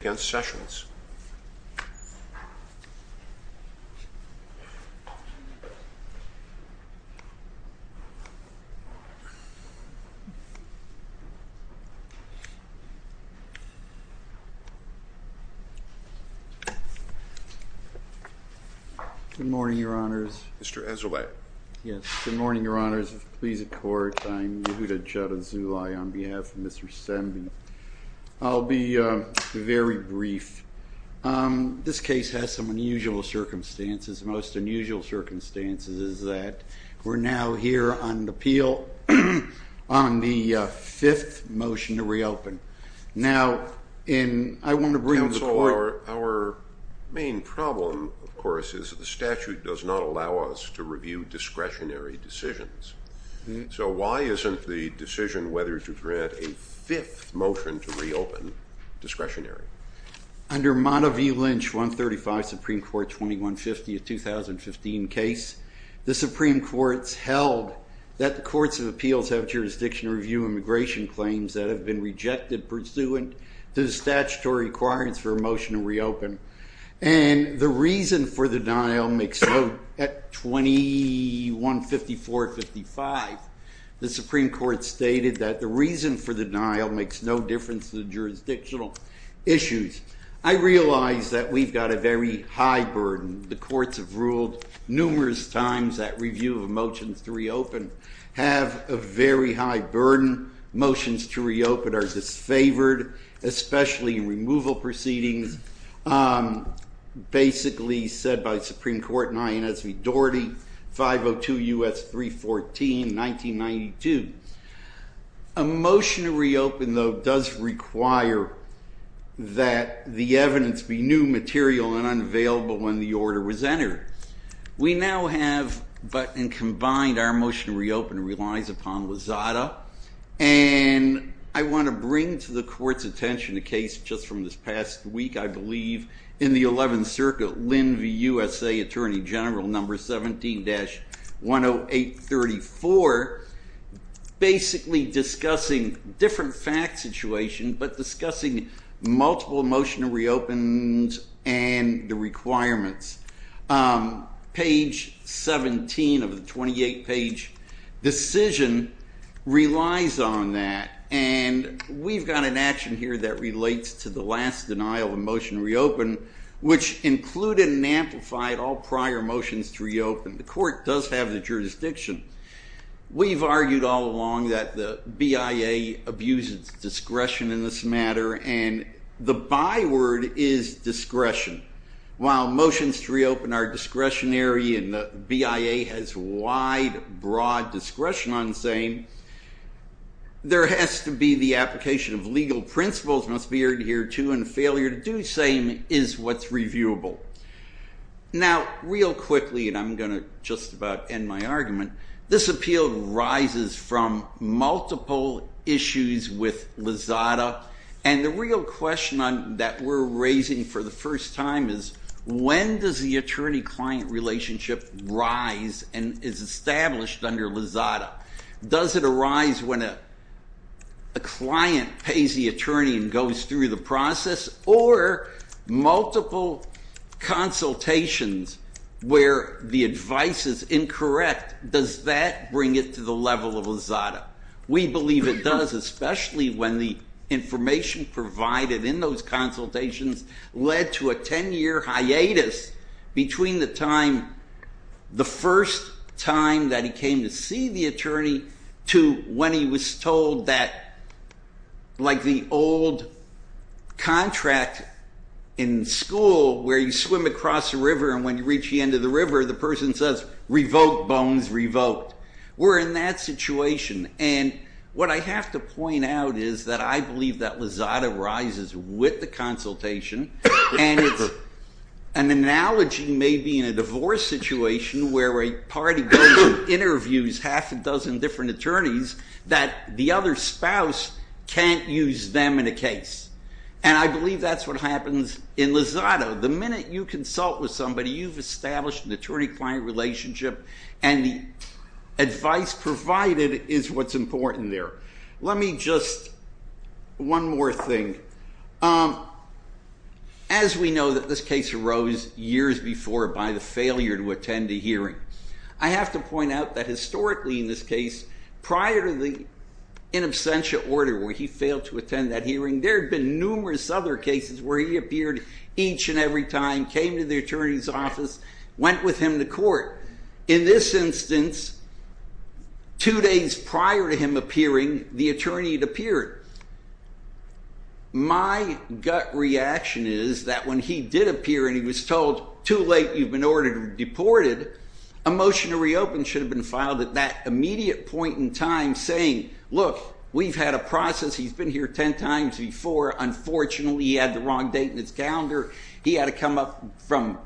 Good morning, Your Honors. Mr. Ezra White. Yes, good morning, Your Honors. If it pleases the Court, I am Yehuda Judd Azulay on behalf of Mr. Sembhi. I'll be very brief. This case has some unusual circumstances. The most unusual circumstances is that we're now here on the appeal on the fifth motion to reopen. Now, I want to bring the Court... Under Monteview Lynch 135, Supreme Court 2150, a 2015 case, the Supreme Court's held that the courts of appeals have jurisdiction to review immigration claims that have been rejected pursuant to the statutory requirements for a motion to reopen. And the reason for the denial makes no... At 2154-55, the Supreme Court stated that the reason for the denial makes no difference to the jurisdictional issues. I realize that we've got a very high burden. The courts have ruled numerous times that review of motions to reopen have a very high burden. Motions to reopen are disfavored, especially in removal proceedings. Basically said by Supreme Court in Inez V. Doherty, 502 U.S. 314, 1992. A motion to reopen, though, does require that the evidence be new material and unavailable when the order was entered. We now have, but in combined, our motion to reopen relies upon Lozada. And I want to bring to the Court's attention a case just from this past week, I believe, in the 11th Circuit, Lynn v. USA Attorney General, number 17-10834, basically discussing a different fact situation, but discussing multiple motion to reopens and the requirements. Page 17 of the 28-page decision relies on that. And we've got an action here that relates to the last denial of a motion to reopen, which included and amplified all prior motions to reopen. The Court does have the jurisdiction. We've argued all along that the BIA abuses discretion in this matter, and the byword is discretion. While motions to reopen are discretionary and the BIA has wide, broad discretion on the same, there has to be the application of legal principles, must be adhered to, and failure to do the same is what's reviewable. Now, real quickly, and I'm going to just about end my argument, this appeal rises from multiple issues with Lozada. And the real question that we're raising for the first time is, when does the attorney-client relationship rise and is established under Lozada? Does it arise when a client pays the attorney and goes through the process, or multiple consultations where the advice is incorrect, does that bring it to the level of Lozada? We believe it does, especially when the information provided in those consultations led to a ten-year hiatus between the time, the first time that he came to see the attorney to when he was told that, like the old contract in school where you swim across a river and when you reach the end of the river, the person says, revoke bones, revoke. We're in that situation, and what I have to point out is that I believe that Lozada rises with the consultation, and an analogy may be in a divorce situation where a party goes and interviews half a dozen different attorneys that the other spouse can't use them in a case. And I believe that's what happens in Lozada. The minute you consult with somebody, you've established an attorney-client relationship, and the advice provided is what's important there. Let me just, one more thing. As we know that this case arose years before by the failure to attend a hearing, I have to point out that historically in this case, prior to the in absentia order where he failed to attend that hearing, there have been numerous other cases where he appeared each and every time, came to the attorney's office, went with him to court. In this instance, two days prior to him appearing, the attorney had appeared. My gut reaction is that when he did appear and he was told, too late, you've been ordered and deported, a motion to reopen should have been filed at that immediate point in time saying, look, we've had a process. He's been here 10 times before. Unfortunately, he had the wrong date in his calendar. He had to come up from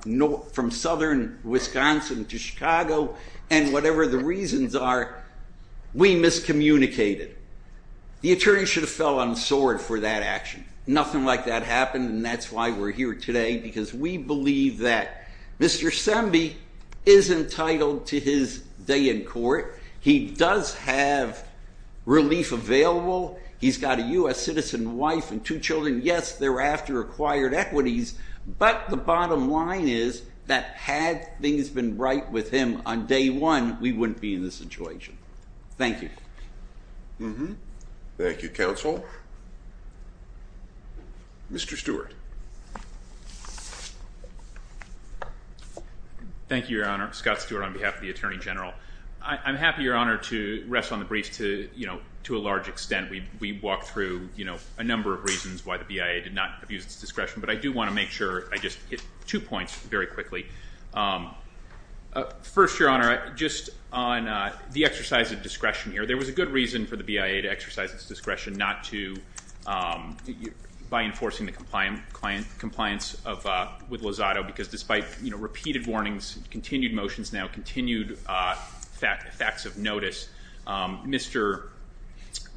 southern Wisconsin to Chicago, and whatever the reasons are, we miscommunicated. The attorney should have fell on his sword for that action. Nothing like that happened, and that's why we're here today, because we believe that Mr. Sembe is entitled to his day in court. He does have relief available. He's got a U.S. citizen wife and two children, yes, thereafter acquired equities, but the bottom line is that had things been right with him on day one, we wouldn't be in this situation. Thank you. Thank you, Counsel. Mr. Stewart. Thank you, Your Honor. Scott Stewart on behalf of the Attorney General. I'm happy, Your Honor, to rest on the briefs to a large extent. We walked through a number of reasons why the BIA did not abuse its discretion, but I do want to make sure I just hit two points very quickly. First, Your Honor, just on the exercise of discretion here, there was a good reason for the BIA to exercise its discretion not to by enforcing the compliance with Lozado, because despite repeated warnings, continued motions now, continued facts of notice, Mr.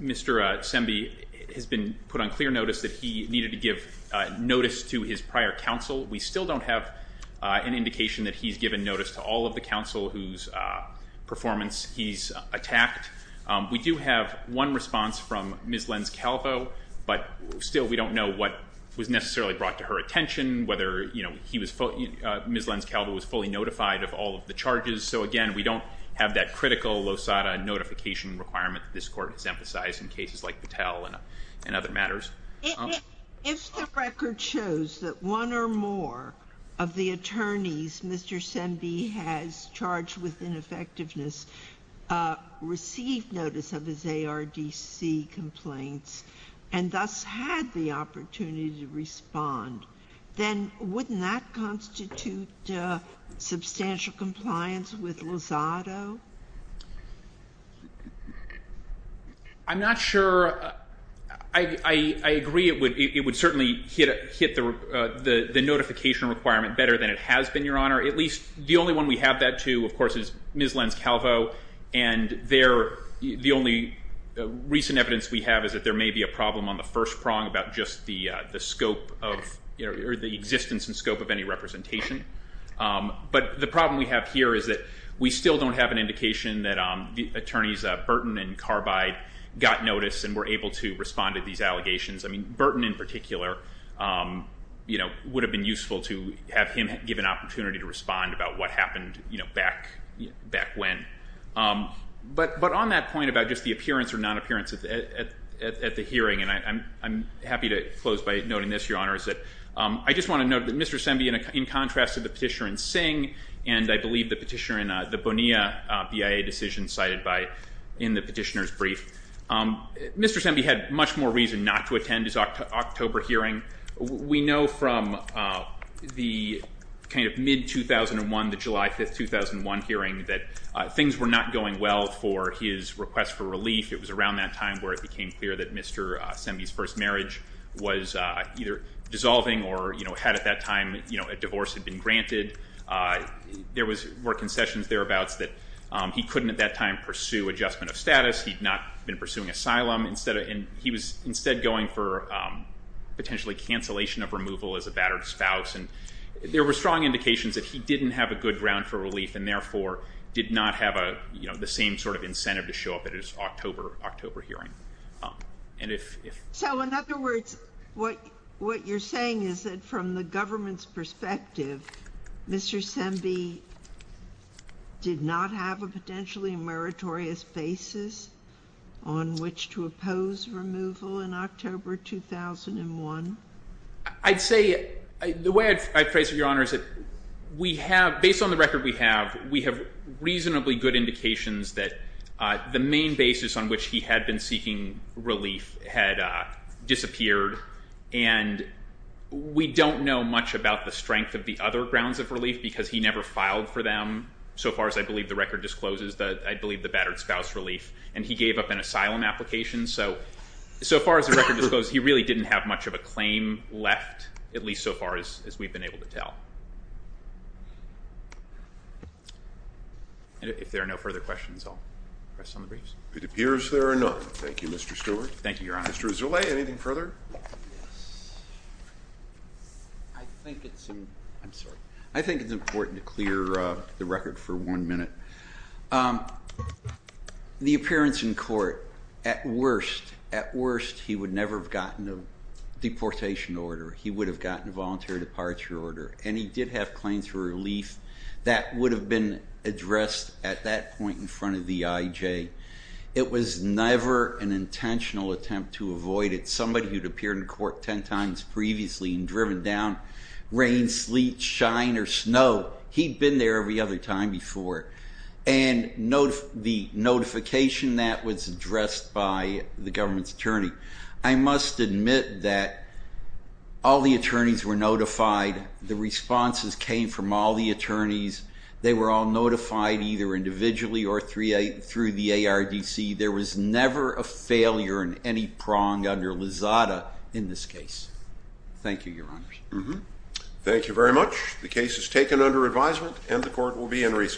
Sembe has been put on clear notice that he needed to give notice to his prior counsel. We still don't have an indication that he's given notice to all of the counsel whose performance he's attacked. We do have one response from Ms. Lenz-Calvo, but still we don't know what was necessarily brought to her attention, whether Ms. Lenz-Calvo was fully notified of all of the charges. So, again, we don't have that critical Lozado notification requirement that this Court has emphasized in cases like Patel and other matters. If the record shows that one or more of the attorneys Mr. Sembe has charged with ineffectiveness received notice of his ARDC complaints and thus had the opportunity to respond, then wouldn't that constitute substantial compliance with Lozado? I'm not sure. I agree it would certainly hit the notification requirement better than it has been, Your Honor. At least the only one we have that to, of course, is Ms. Lenz-Calvo. And the only recent evidence we have is that there may be a problem on the first prong about just the scope or the existence and scope of any representation. But the problem we have here is that we still don't have an indication that attorneys Burton and Carbide got notice and were able to respond to these allegations. I mean, Burton in particular would have been useful to have him give an opportunity to respond about what happened back when. But on that point about just the appearance or non-appearance at the hearing, and I'm happy to close by noting this, Your Honor, is that I just want to note that Mr. Sembe, in contrast to the petitioner in Singh, and I believe the petitioner in the Bonilla BIA decision cited in the petitioner's brief, Mr. Sembe had much more reason not to attend his October hearing. We know from the kind of mid-2001, the July 5, 2001 hearing, that things were not going well for his request for relief. It was around that time where it became clear that Mr. Sembe's first marriage was either dissolving or, you know, had at that time a divorce had been granted. There were concessions thereabouts that he couldn't at that time pursue adjustment of status. He'd not been pursuing asylum. And he was instead going for potentially cancellation of removal as a battered spouse. And there were strong indications that he didn't have a good ground for relief, and therefore did not have a, you know, the same sort of incentive to show up at his October hearing. So in other words, what you're saying is that from the government's perspective, Mr. Sembe did not have a potentially meritorious basis on which to oppose removal in October 2001? I'd say the way I'd phrase it, Your Honor, is that we have, based on the record we have, we have reasonably good indications that the main basis on which he had been seeking relief had disappeared. And we don't know much about the strength of the other grounds of relief because he never filed for them, so far as I believe the record discloses, I believe the battered spouse relief. And he gave up an asylum application. So, so far as the record discloses, he really didn't have much of a claim left, at least so far as we've been able to tell. And if there are no further questions, I'll press on the briefs. It appears there are none. Thank you, Mr. Stewart. Thank you, Your Honor. Mr. Rousselet, anything further? I think it's important to clear the record for one minute. The appearance in court, at worst, at worst, he would never have gotten a deportation order. He would have gotten a voluntary departure order, and he did have claims for relief. That would have been addressed at that point in front of the IJ. It was never an intentional attempt to avoid it. Somebody who'd appeared in court ten times previously and driven down, rain, sleet, shine, or snow, he'd been there every other time before. And the notification that was addressed by the government's attorney, I must admit that all the attorneys were notified. The responses came from all the attorneys. They were all notified either individually or through the ARDC. There was never a failure in any prong under Lizada in this case. Thank you, Your Honor. Thank you very much. The case is taken under advisement, and the court will be in recess.